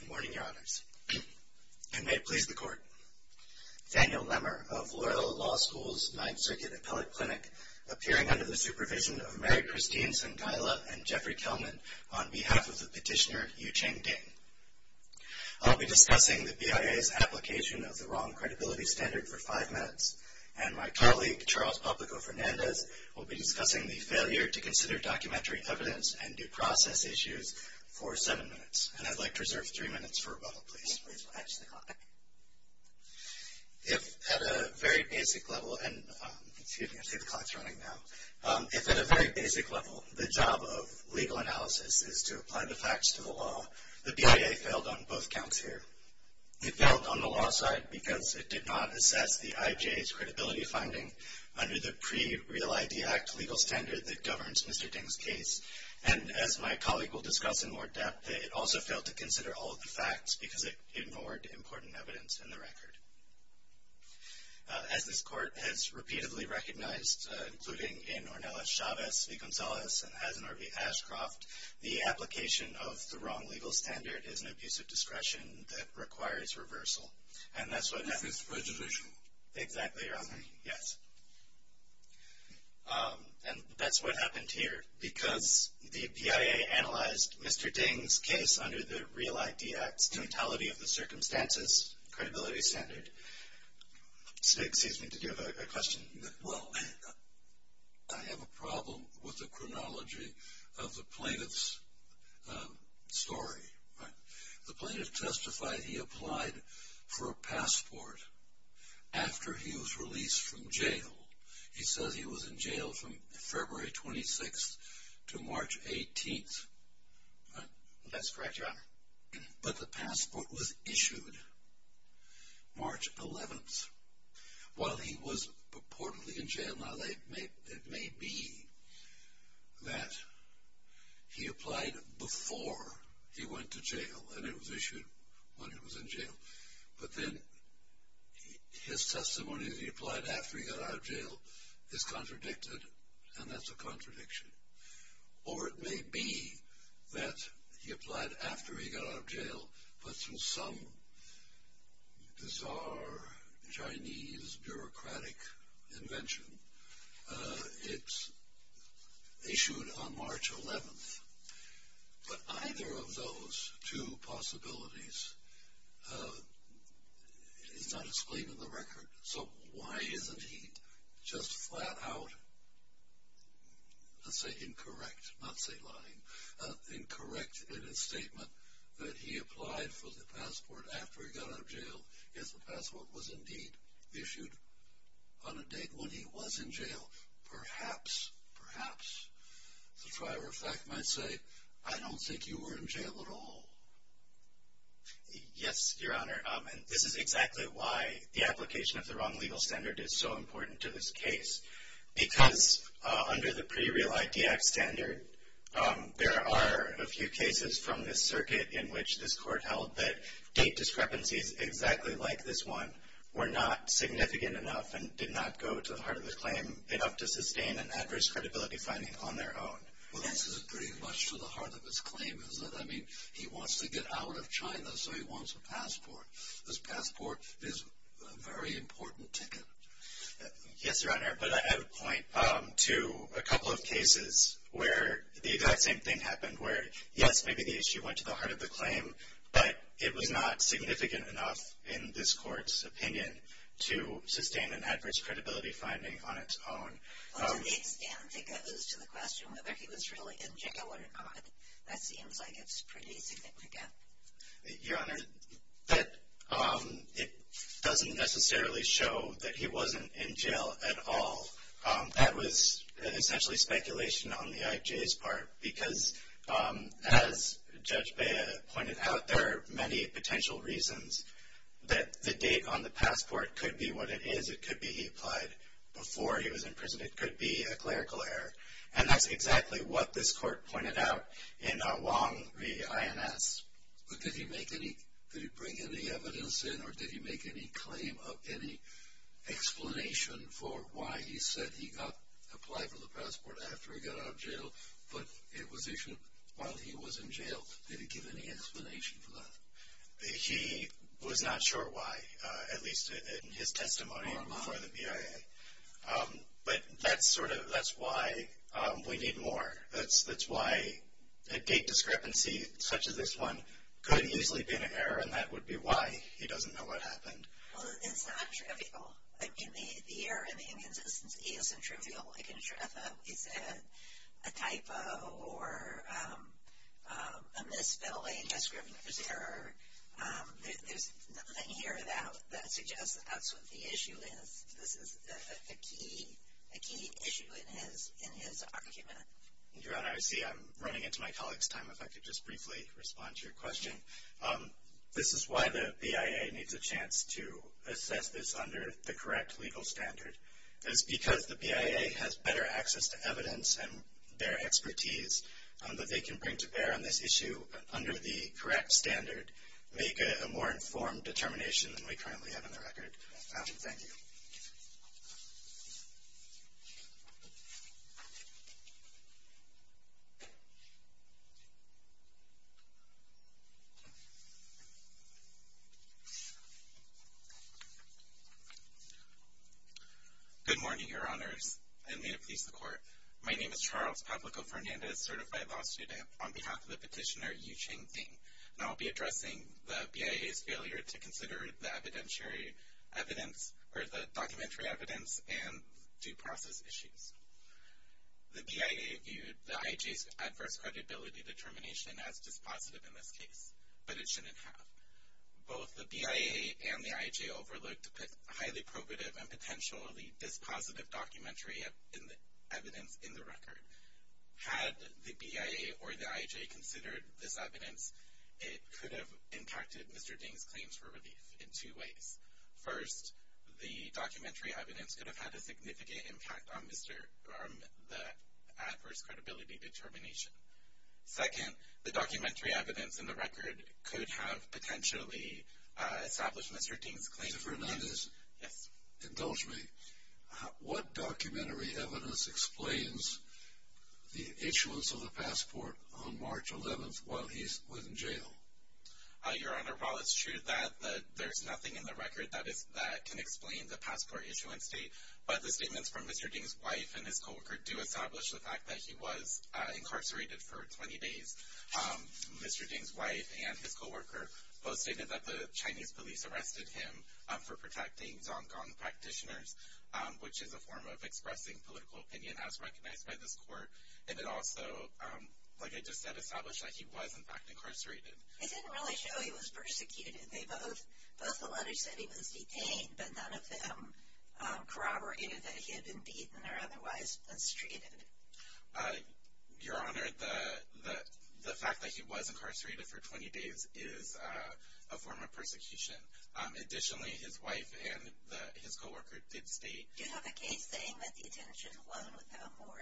Good morning, Your Honors, and may it please the Court. Daniel Lemmer of Loyola Law School's 9th Circuit Appellate Clinic, appearing under the supervision of Mary Christine Sangaila and Jeffrey Kelman on behalf of the petitioner, Yucheng Ding. I'll be discussing the BIA's application of the wrong credibility standard for 5 minutes, and my colleague, Charles Pablico-Fernandez, will be discussing the failure to consider documentary evidence and due process issues for 7 minutes. And I'd like to reserve 3 minutes for rebuttal, please. If, at a very basic level, the job of legal analysis is to apply the facts to the law, the BIA failed on both counts here. It failed on the law side because it did not assess the IJA's credibility finding under the pre-Real ID Act legal standard that governs Mr. Ding's case. And as my colleague will discuss in more depth, it also failed to consider all of the facts because it ignored important evidence in the record. As this Court has repeatedly recognized, including in Ornelas Chavez v. Gonzalez and Hazen or v. Ashcroft, the application of the wrong legal standard is an abuse of discretion that requires reversal. And that's what happened... This is prejudicial. Exactly, Your Honor. Yes. And that's what happened here because the BIA analyzed Mr. Ding's case under the Real ID Act's Totality of the Circumstances credibility standard. Stig, excuse me, did you have a question? Well, I have a problem with the chronology of the plaintiff's story. The plaintiff testified he applied for a passport after he was released from jail. He says he was in jail from February 26th to March 18th. That's correct, Your Honor. But the passport was issued March 11th while he was purportedly in jail. Now, it may be that he applied before he went to jail and it was issued when he was in jail. But then his testimony that he applied after he got out of jail is contradicted, and that's a contradiction. Or it may be that he applied after he got out of jail but through some bizarre Chinese bureaucratic invention. It's issued on March 11th. But either of those two possibilities is not explained in the record. So why isn't he just flat out, let's say, incorrect, not say lying, incorrect in his statement that he applied for the passport after he got out of jail if the passport was indeed issued on a date when he was in jail? Perhaps, perhaps the driver of fact might say, I don't think you were in jail at all. Yes, Your Honor. This is exactly why the application of the wrong legal standard is so important to this case. Because under the Pre-Real ID Act standard, there are a few cases from this circuit in which this court held that date discrepancies exactly like this one were not significant enough and did not go to the heart of the claim enough to sustain an adverse credibility finding on their own. Well, this is pretty much to the heart of his claim, isn't it? I mean, he wants to get out of China, so he wants a passport. This passport is a very important ticket. Yes, Your Honor, but I have a point to a couple of cases where the exact same thing happened, where, yes, maybe the issue went to the heart of the claim, but it was not significant enough in this court's opinion to sustain an adverse credibility finding on its own. To the extent it goes to the question whether he was really in jail or not, that seems like it's a pretty significant gap. Your Honor, it doesn't necessarily show that he wasn't in jail at all. That was essentially speculation on the IJ's part, because as Judge Bea pointed out, there are many potential reasons that the date on the passport could be what it is. It could be he applied before he was in prison. It could be a clerical error. And that's exactly what this court pointed out in Wong v. INS. But did he bring any evidence in, or did he make any claim of any explanation for why he said he applied for the passport after he got out of jail, but it was while he was in jail? Did he give any explanation for that? He was not sure why, at least in his testimony before the BIA. But that's sort of why we need more. That's why a date discrepancy such as this one could easily be an error, and that would be why he doesn't know what happened. Well, it's not trivial. I mean, the error in the inconsistency isn't trivial. Like in Shreffa, he said a typo or a misspelling is an error. There's nothing here that suggests that that's what the issue is. This is a key issue in his argument. Your Honor, I see I'm running into my colleague's time. If I could just briefly respond to your question. This is why the BIA needs a chance to assess this under the correct legal standard. It's because the BIA has better access to evidence and their expertise that they can bring to bear on this issue under the correct standard make a more informed determination than we currently have on the record. Thank you. Good morning, Your Honors, and may it please the Court. My name is Charles Pablico-Fernandez, certified law student. I'm on behalf of the petitioner Yu-Cheng Ding, and I'll be addressing the BIA's failure to consider the documentary evidence and due process issues. The BIA viewed the IHA's adverse credibility determination as dispositive in this case, but it shouldn't have. Both the BIA and the IHA overlooked highly probative and potentially dispositive documentary evidence in the record. Had the BIA or the IHA considered this evidence, it could have impacted Mr. Ding's claims for relief in two ways. First, the documentary evidence could have had a significant impact on the adverse credibility determination. Second, the documentary evidence in the record could have potentially established Mr. Ding's claims. Mr. Fernandez? Yes. Indulge me. What documentary evidence explains the issuance of the passport on March 11th while he was in jail? Your Honor, while it's true that there's nothing in the record that can explain the passport issuance date, but the statements from Mr. Ding's wife and his co-worker do establish the fact that he was incarcerated for 20 days. Mr. Ding's wife and his co-worker both stated that the Chinese police arrested him for protecting Zonggang practitioners, which is a form of expressing political opinion as recognized by this court. And it also, like I just said, established that he was, in fact, incarcerated. They didn't really show he was persecuted. Both the letters said he was detained, but none of them corroborated that he had been beaten or otherwise mistreated. Your Honor, the fact that he was incarcerated for 20 days is a form of persecution. Additionally, his wife and his co-worker did state… Do you have a case saying that the detention alone without more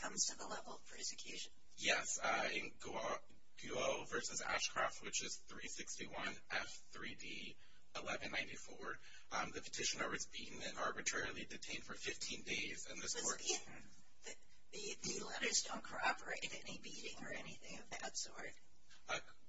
comes to the level of persecution? Yes. In Guo v. Ashcroft, which is 361 F3D 1194, the petitioner was beaten and arbitrarily detained for 15 days, and this court… So the letters don't corroborate any beating or anything of that sort?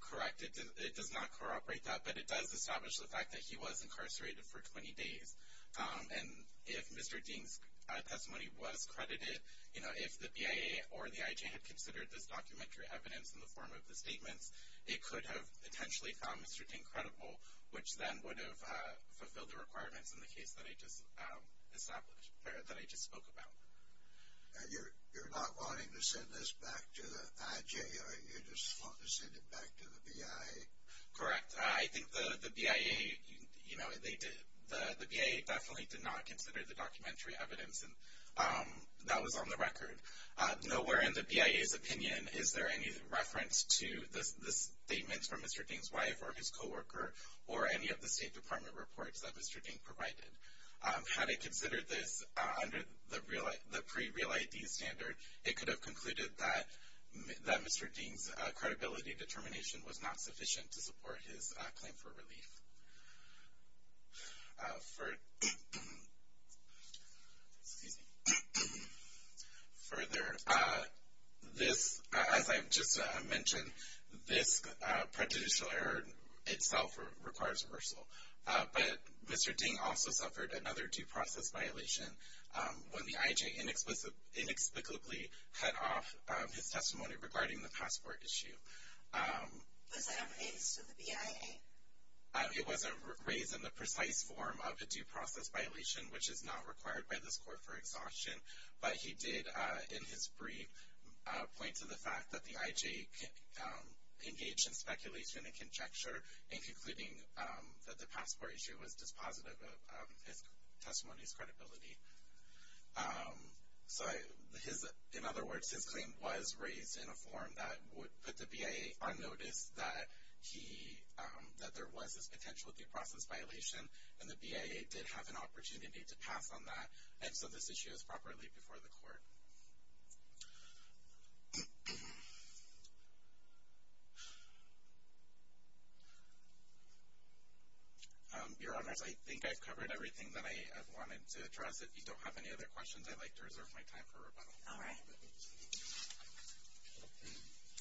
Correct. It does not corroborate that, but it does establish the fact that he was incarcerated for 20 days. And if Mr. Ding's testimony was credited, you know, if the BIA or the IJ had considered this documentary evidence in the form of the statements, it could have potentially found Mr. Ding credible, which then would have fulfilled the requirements in the case that I just spoke about. And you're not wanting to send this back to the IJ? You just want to send it back to the BIA? Correct. I think the BIA definitely did not consider the documentary evidence, and that was on the record. Nowhere in the BIA's opinion is there any reference to the statements from Mr. Ding's wife or his coworker or any of the State Department reports that Mr. Ding provided. Had it considered this under the pre-Real ID standard, it could have concluded that Mr. Ding's credibility determination was not sufficient to support his claim for relief. Further, as I just mentioned, this prejudicial error itself requires reversal. But Mr. Ding also suffered another due process violation when the IJ inexplicably cut off his testimony regarding the passport issue. Was that raised with the BIA? It wasn't raised in the precise form of a due process violation, which is not required by this court for exhaustion. But he did, in his brief, point to the fact that the IJ engaged in speculation and conjecture in concluding that the passport issue was dispositive of his testimony's credibility. In other words, his claim was raised in a form that would put the BIA on notice that there was this potential due process violation, and the BIA did have an opportunity to pass on that, and so this issue is properly before the court. Your Honors, I think I've covered everything that I wanted to address. If you don't have any other questions, I'd like to reserve my time for rebuttal. All right.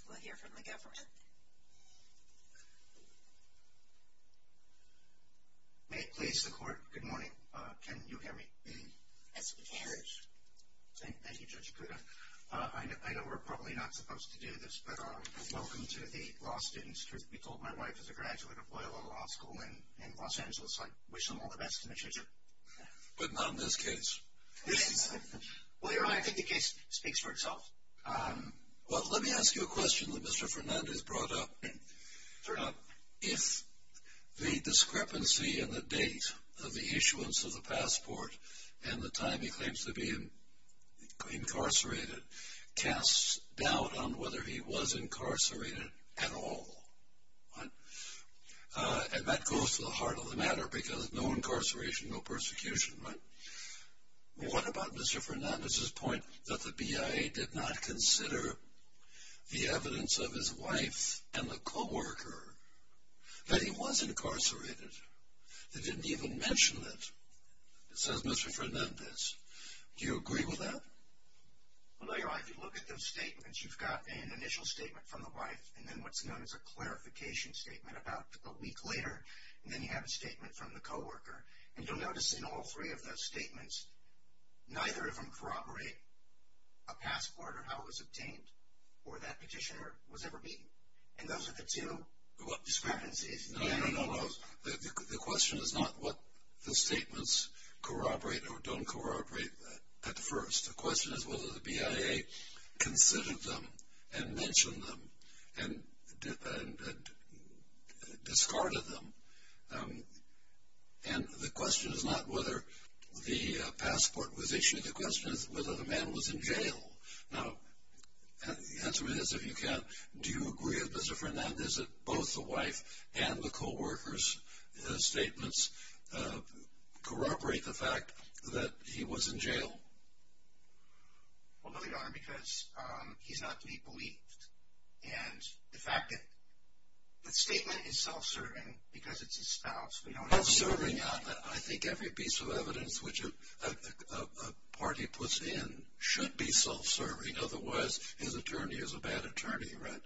We'll hear from the government. May it please the court. Good morning. Can you hear me? Yes, we can. Thank you, Judge Pruda. I know we're probably not supposed to do this, but welcome to the law students. Truth be told, my wife is a graduate of Loyola Law School in Los Angeles, so I wish them all the best in the future. But not in this case. Well, Your Honor, I think the case speaks for itself. Well, let me ask you a question that Mr. Fernandez brought up. If the discrepancy in the date of the issuance of the passport and the time he claims to be incarcerated casts doubt on whether he was incarcerated at all, and that goes to the heart of the matter, because no incarceration, no persecution. But what about Mr. Fernandez's point that the BIA did not consider the evidence of his wife and the co-worker that he was incarcerated? They didn't even mention it. It says Mr. Fernandez. Do you agree with that? Well, Your Honor, if you look at those statements, you've got an initial statement from the wife and then what's known as a clarification statement about a week later, and then you have a statement from the co-worker. And you'll notice in all three of those statements, neither of them corroborate a passport or how it was obtained or that petitioner was ever beaten. And those are the two discrepancies. No, no, no. The question is not what the statements corroborate or don't corroborate at first. The question is whether the BIA considered them and mentioned them and discarded them. And the question is not whether the passport was issued. The question is whether the man was in jail. Now, the answer is, if you can, do you agree with Mr. Fernandez that both the wife and the co-worker's statements corroborate the fact that he was in jail? Well, no, Your Honor, because he's not to be believed. And the fact that the statement is self-serving because it's his spouse. It's serving. I think every piece of evidence which a party puts in should be self-serving. Otherwise, his attorney is a bad attorney, right?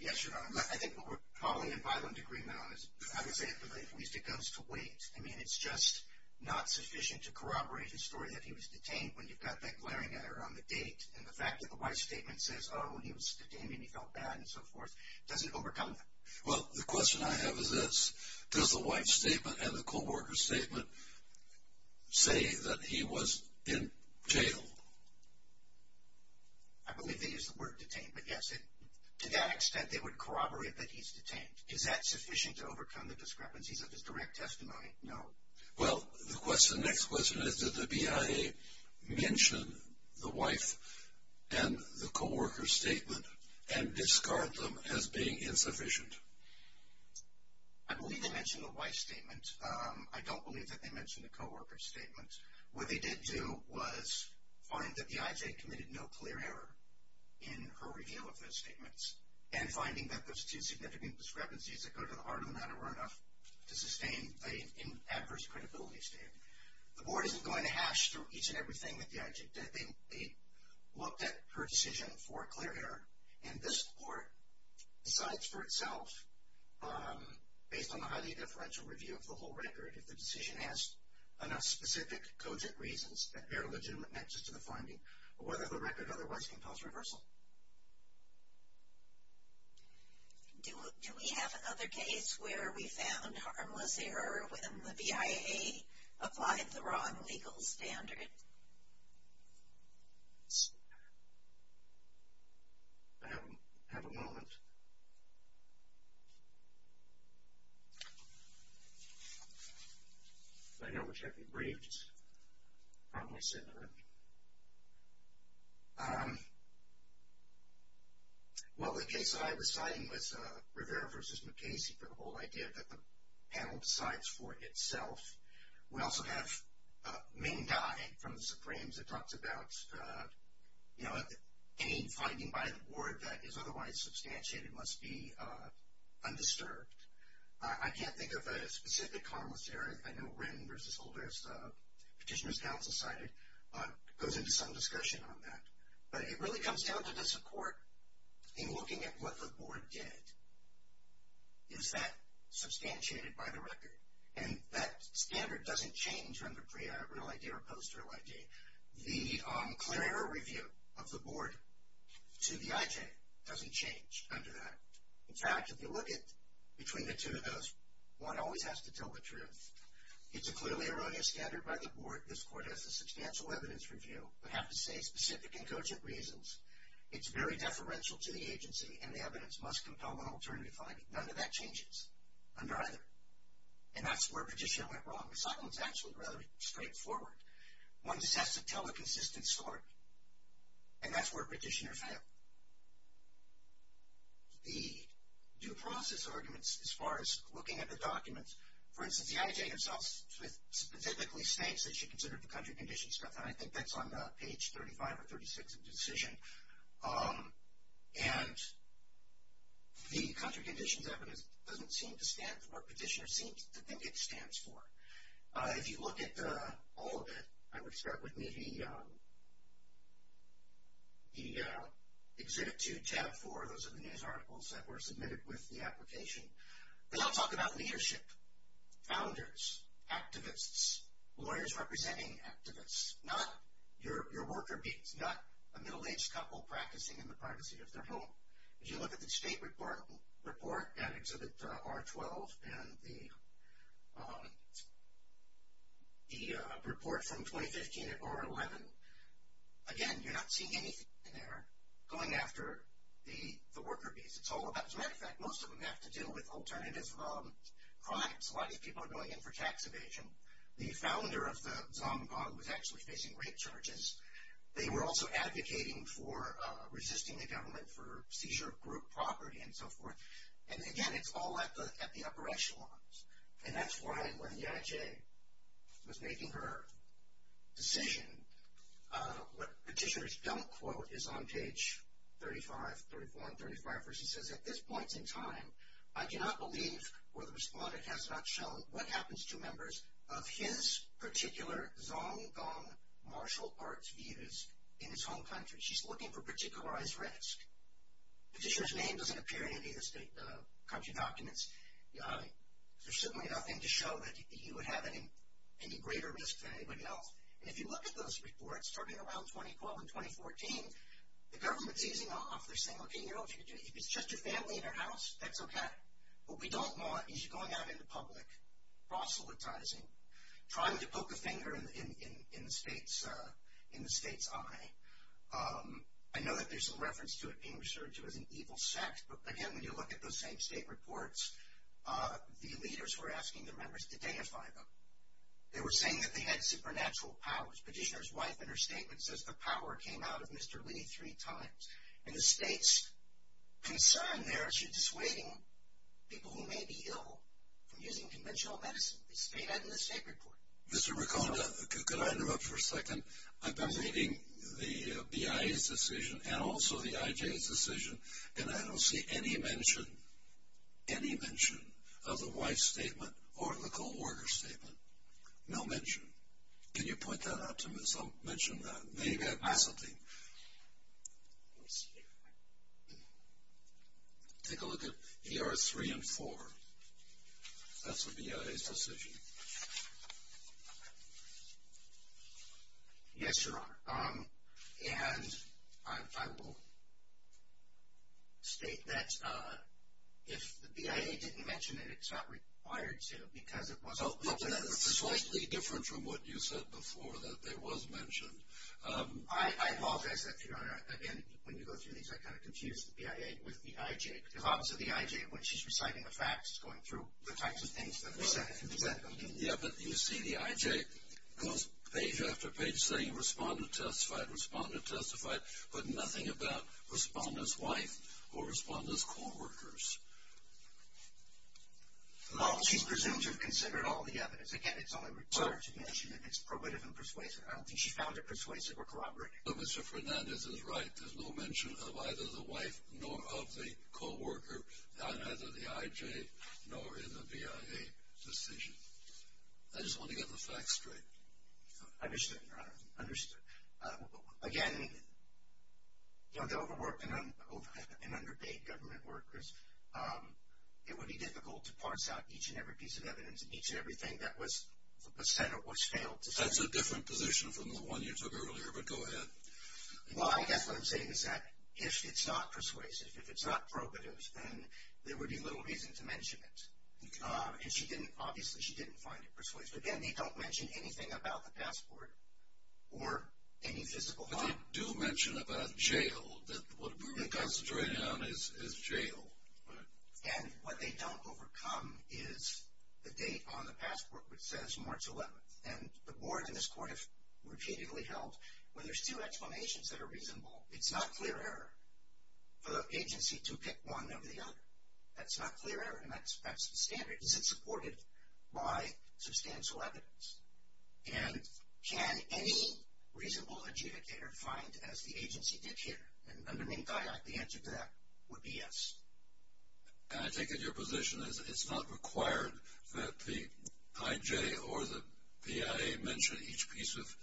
Yes, Your Honor. I think what we're calling a violent agreement on is, I would say at the very least, it goes to wait. I mean, it's just not sufficient to corroborate the story that he was detained when you've got that glaring error on the date. And the fact that the wife's statement says, oh, he was detained and he felt bad and so forth, does it overcome that? Well, the question I have is this. Does the wife's statement and the co-worker's statement say that he was in jail? I believe they use the word detained. But, yes, to that extent, they would corroborate that he's detained. Is that sufficient to overcome the discrepancies of his direct testimony? No. Well, the next question is, did the BIA mention the wife and the co-worker's statement and discard them as being insufficient? I believe they mentioned the wife's statement. I don't believe that they mentioned the co-worker's statement. What they did do was find that the IJ committed no clear error in her reveal of those statements and finding that those two significant discrepancies that go to the heart of the matter were enough to sustain an adverse credibility statement. The board isn't going to hash through each and everything that the IJ did. They looked at her decision for a clear error. And this court decides for itself, based on the highly differential review of the whole record, if the decision has enough specific cogent reasons that bear legitimate nexus to the finding or whether the record otherwise compels reversal. Do we have another case where we found harmless error when the BIA applied the wrong legal standard? I have a moment. I know we're checking briefs. Harmless error. Well, the case I was citing was Rivera v. McKay's for the whole idea that the panel decides for itself. We also have Ming Dai from the Supremes that talks about, you know, any finding by the board that is otherwise substantiated must be undisturbed. I can't think of a specific harmless error. I know Wren v. Holder's Petitioner's Council cited goes into some discussion on that. But it really comes down to the support in looking at what the board did. Is that substantiated by the record? And that standard doesn't change from the pre-real IJ or post-real IJ. The clear error review of the board to the IJ doesn't change under that. In fact, if you look at between the two of those, one always has to tell the truth. It's a clearly erroneous standard by the board. This court has a substantial evidence review, but have to say specific and cogent reasons. It's very deferential to the agency, and the evidence must compel an alternative finding. None of that changes under either. And that's where Petitioner went wrong. The second one is actually rather straightforward. One just has to tell the consistent story, and that's where Petitioner failed. The due process arguments as far as looking at the documents, for instance, the IJ itself specifically states that she considered the country conditions stuff, and I think that's on page 35 or 36 of the decision. And the country conditions evidence doesn't seem to stand, or Petitioner seems to think it stands for. If you look at all of it, I would start with maybe Exhibit 2, Tab 4, those are the news articles that were submitted with the application. They all talk about leadership, founders, activists, lawyers representing activists, not your worker bees, not a middle-aged couple practicing in the privacy of their home. If you look at the state report at Exhibit R12 and the report from 2015 at R11, again, you're not seeing anything in there going after the worker bees. As a matter of fact, most of them have to deal with alternative crimes. A lot of these people are going in for tax evasion. The founder of the Zomgog was actually facing rape charges. They were also advocating for resisting the government for seizure of group property and so forth. And again, it's all at the upper echelons, and that's why when the IJ was making her decision, what Petitioner's don't quote is on page 35, 34 and 35, where she says, at this point in time, I cannot believe, or the respondent has not shown, what happens to members of his particular Zomgog martial arts views in his home country. She's looking for particularized risk. Petitioner's name doesn't appear in any of the country documents. There's certainly nothing to show that he would have any greater risk than anybody else. And if you look at those reports, starting around 2012 and 2014, the government's easing off. They're saying, okay, if it's just your family in your house, that's okay. What we don't want is you going out into public, proselytizing, trying to poke a finger in the state's eye. I know that there's some reference to it being referred to as an evil sect, but again, when you look at those same state reports, the leaders were asking the members to deify them. They were saying that they had supernatural powers. Petitioner's wife, in her statement, says the power came out of Mr. Lee three times. And the state's concern there is she's dissuading people who may be ill from using conventional medicine. They say that in the state report. Mr. Ricconda, could I interrupt for a second? I've been reading the BIA's decision and also the IJ's decision, and I don't see any mention, any mention of the wife's statement or the court order statement. No mention. Can you point that out to me so I'll mention that? Maybe that'd be something. Take a look at ER 3 and 4. That's the BIA's decision. Yes, Your Honor, and I will state that if the BIA didn't mention it, it's not required to because it wasn't mentioned. That's slightly different from what you said before, that it was mentioned. I apologize, Your Honor. Again, when you go through these, I kind of confuse the BIA with the IJ, because obviously the IJ, when she's reciting the facts, is going through the types of things that are said. Yeah, but you see the IJ goes page after page saying respondent testified, respondent testified, but nothing about respondent's wife or respondent's co-workers. No, she's presumed to have considered all the evidence. Again, it's only required to mention it. It's probative and persuasive. I don't think she found it persuasive or corroborative. No, Mr. Fernandez is right. There's no mention of either the wife nor of the co-worker, and neither the IJ nor in the BIA decision. I just want to get the facts straight. Understood, Your Honor, understood. Again, you know, the overworked and underpaid government workers, it would be difficult to parse out each and every piece of evidence and each and everything that was said or was failed to say. That's a different position from the one you took earlier, but go ahead. Well, I guess what I'm saying is that if it's not persuasive, if it's not probative, then there would be little reason to mention it. And she didn't, obviously she didn't find it persuasive. Again, they don't mention anything about the passport or any physical harm. But they do mention about jail, that what we're concentrating on is jail. And what they don't overcome is the date on the passport which says March 11th. And the board and this court have repeatedly held, well, there's two explanations that are reasonable. It's not clear error for the agency to pick one over the other. That's not clear error, and that's the standard. Is it supported by substantial evidence? And can any reasonable adjudicator find as the agency did here? And under Minkai, the answer to that would be yes. And I take it your position is it's not required that the IJ or the PIA mention each piece of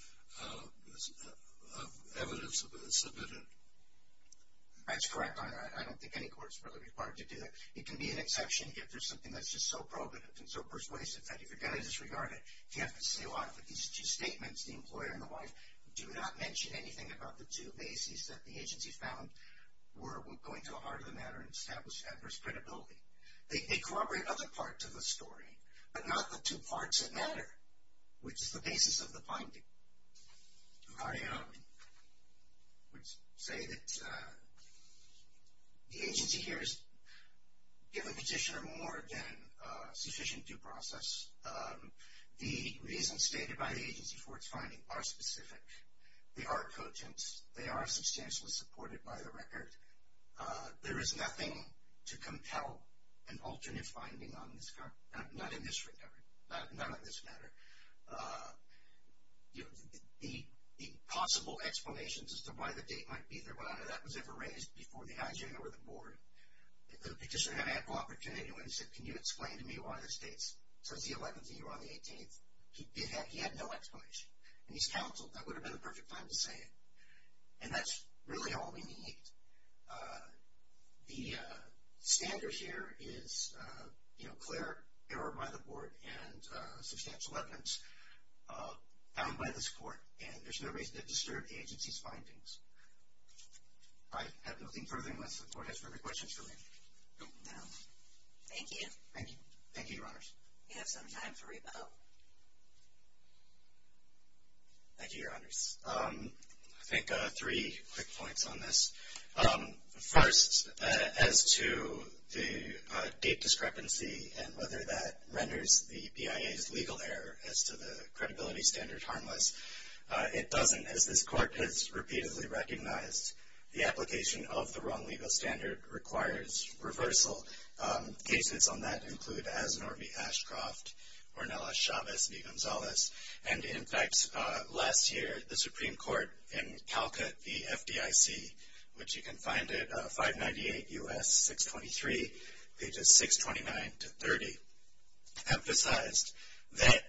evidence submitted? That's correct. I don't think any court is really required to do that. It can be an exception if there's something that's just so probative and so persuasive that you forget to disregard it. If you have to say a lot of these two statements, the employer and the wife, do not mention anything about the two bases that the agency found were going to a heart of the matter and established adverse credibility. They corroborate other parts of the story, but not the two parts that matter, which is the basis of the finding. I would say that the agency here has given the petitioner more than sufficient due process. The reasons stated by the agency for its finding are specific. They are quotient. They are substantially supported by the record. There is nothing to compel an alternate finding on this matter. The possible explanations as to why the date might be there, whether that was ever raised before the IJ or the board, the petitioner had ample opportunity when he said, can you explain to me why this date says the 11th and you're on the 18th? He had no explanation. And he's counseled. That would have been the perfect time to say it. And that's really all we need. The standard here is clear error by the board and substantial evidence found by the support, and there's no reason to disturb the agency's findings. I have nothing further unless the board has further questions for me. No. Thank you. Thank you. Thank you, Your Honors. We have some time for rebuttal. Thank you, Your Honors. I think three quick points on this. First, as to the date discrepancy and whether that renders the BIA's legal error as to the credibility standard harmless. It doesn't, as this court has repeatedly recognized. The application of the wrong legal standard requires reversal. Cases on that include Asnor v. Ashcroft, Ornelas-Chavez v. Gonzalez. And, in fact, last year the Supreme Court in Calcutt v. FDIC, which you can find at 598 U.S. 623, pages 629 to 30, emphasized that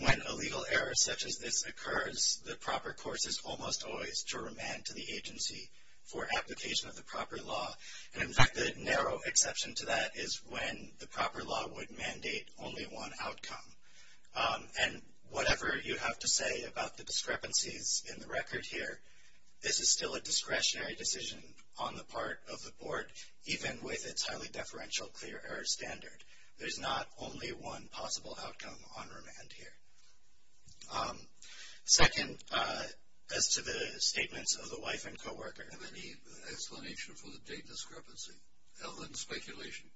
when a legal error such as this occurs, the proper course is almost always to remand to the agency for application of the proper law. And, in fact, the narrow exception to that is when the proper law would mandate only one outcome. And whatever you have to say about the discrepancies in the record here, this is still a discretionary decision on the part of the board, even with its highly deferential clear error standard. There's not only one possible outcome on remand here. Second, as to the statements of the wife and co-worker. Do you have any explanation for the date discrepancy? Other than speculation?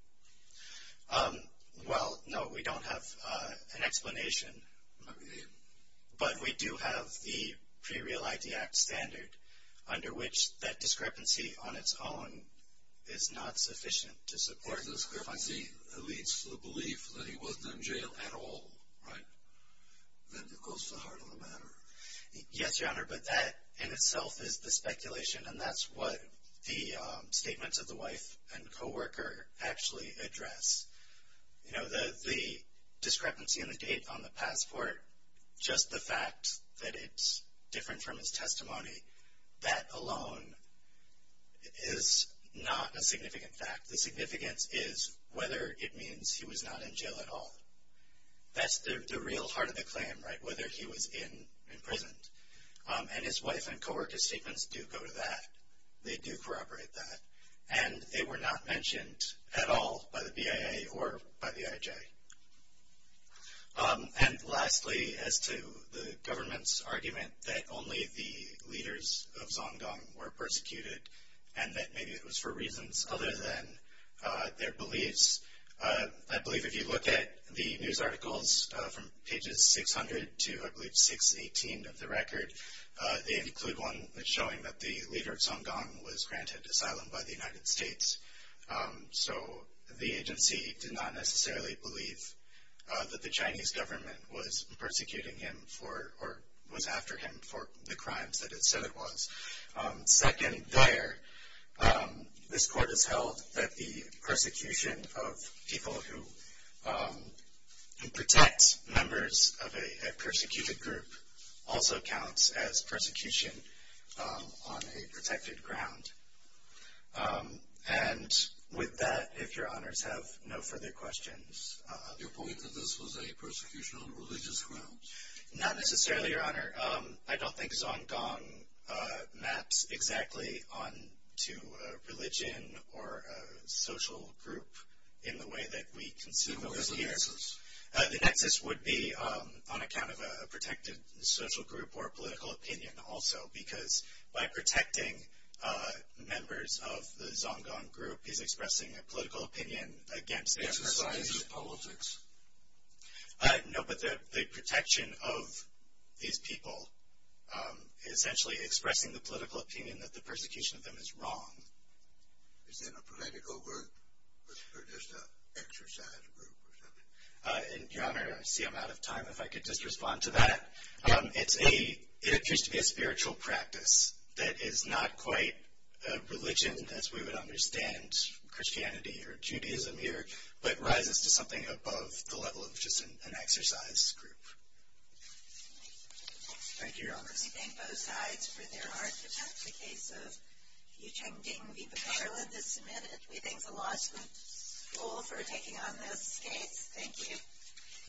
Well, no, we don't have an explanation. But we do have the Pre-Real ID Act standard, under which that discrepancy on its own is not sufficient to support. Or the discrepancy leads to the belief that he wasn't in jail at all, right? That goes to the heart of the matter. Yes, Your Honor, but that in itself is the speculation, and that's what the statements of the wife and co-worker actually address. You know, the discrepancy in the date on the passport, just the fact that it's different from his testimony, that alone is not a significant fact. The significance is whether it means he was not in jail at all. That's the real heart of the claim, right, whether he was in prison. And his wife and co-worker's statements do go to that. They do corroborate that. And they were not mentioned at all by the BIA or by the IJ. And lastly, as to the government's argument that only the leaders of Zongdong were persecuted, and that maybe it was for reasons other than their beliefs, I believe if you look at the news articles from pages 600 to I believe 618 of the record, they include one showing that the leader of Zongdong was granted asylum by the United States. So the agency did not necessarily believe that the Chinese government was persecuting him for or was after him for the crimes that it said it was. Second, there, this court has held that the persecution of people who protect members of a persecuted group also counts as persecution on a protected ground. And with that, if Your Honors have no further questions. Your point that this was a persecution on religious grounds? Not necessarily, Your Honor. I don't think Zongdong maps exactly on to a religion or a social group in the way that we conceive of it. It was a nexus. The nexus would be on account of a protected social group or a political opinion also, because by protecting members of the Zongdong group is expressing a political opinion against the exercise. It's a science of politics. No, but the protection of these people is essentially expressing the political opinion that the persecution of them is wrong. Is that a political group or just an exercise group or something? Your Honor, I see I'm out of time. If I could just respond to that. It appears to be a spiritual practice that is not quite a religion as we would understand Christianity or Judaism here, but rises to something above the level of just an exercise group. Thank you, Your Honors. We thank both sides for their hard work. That's the case of Yucheng Ding v. Pamela that's submitted. We thank the law school for taking on this case. Thank you.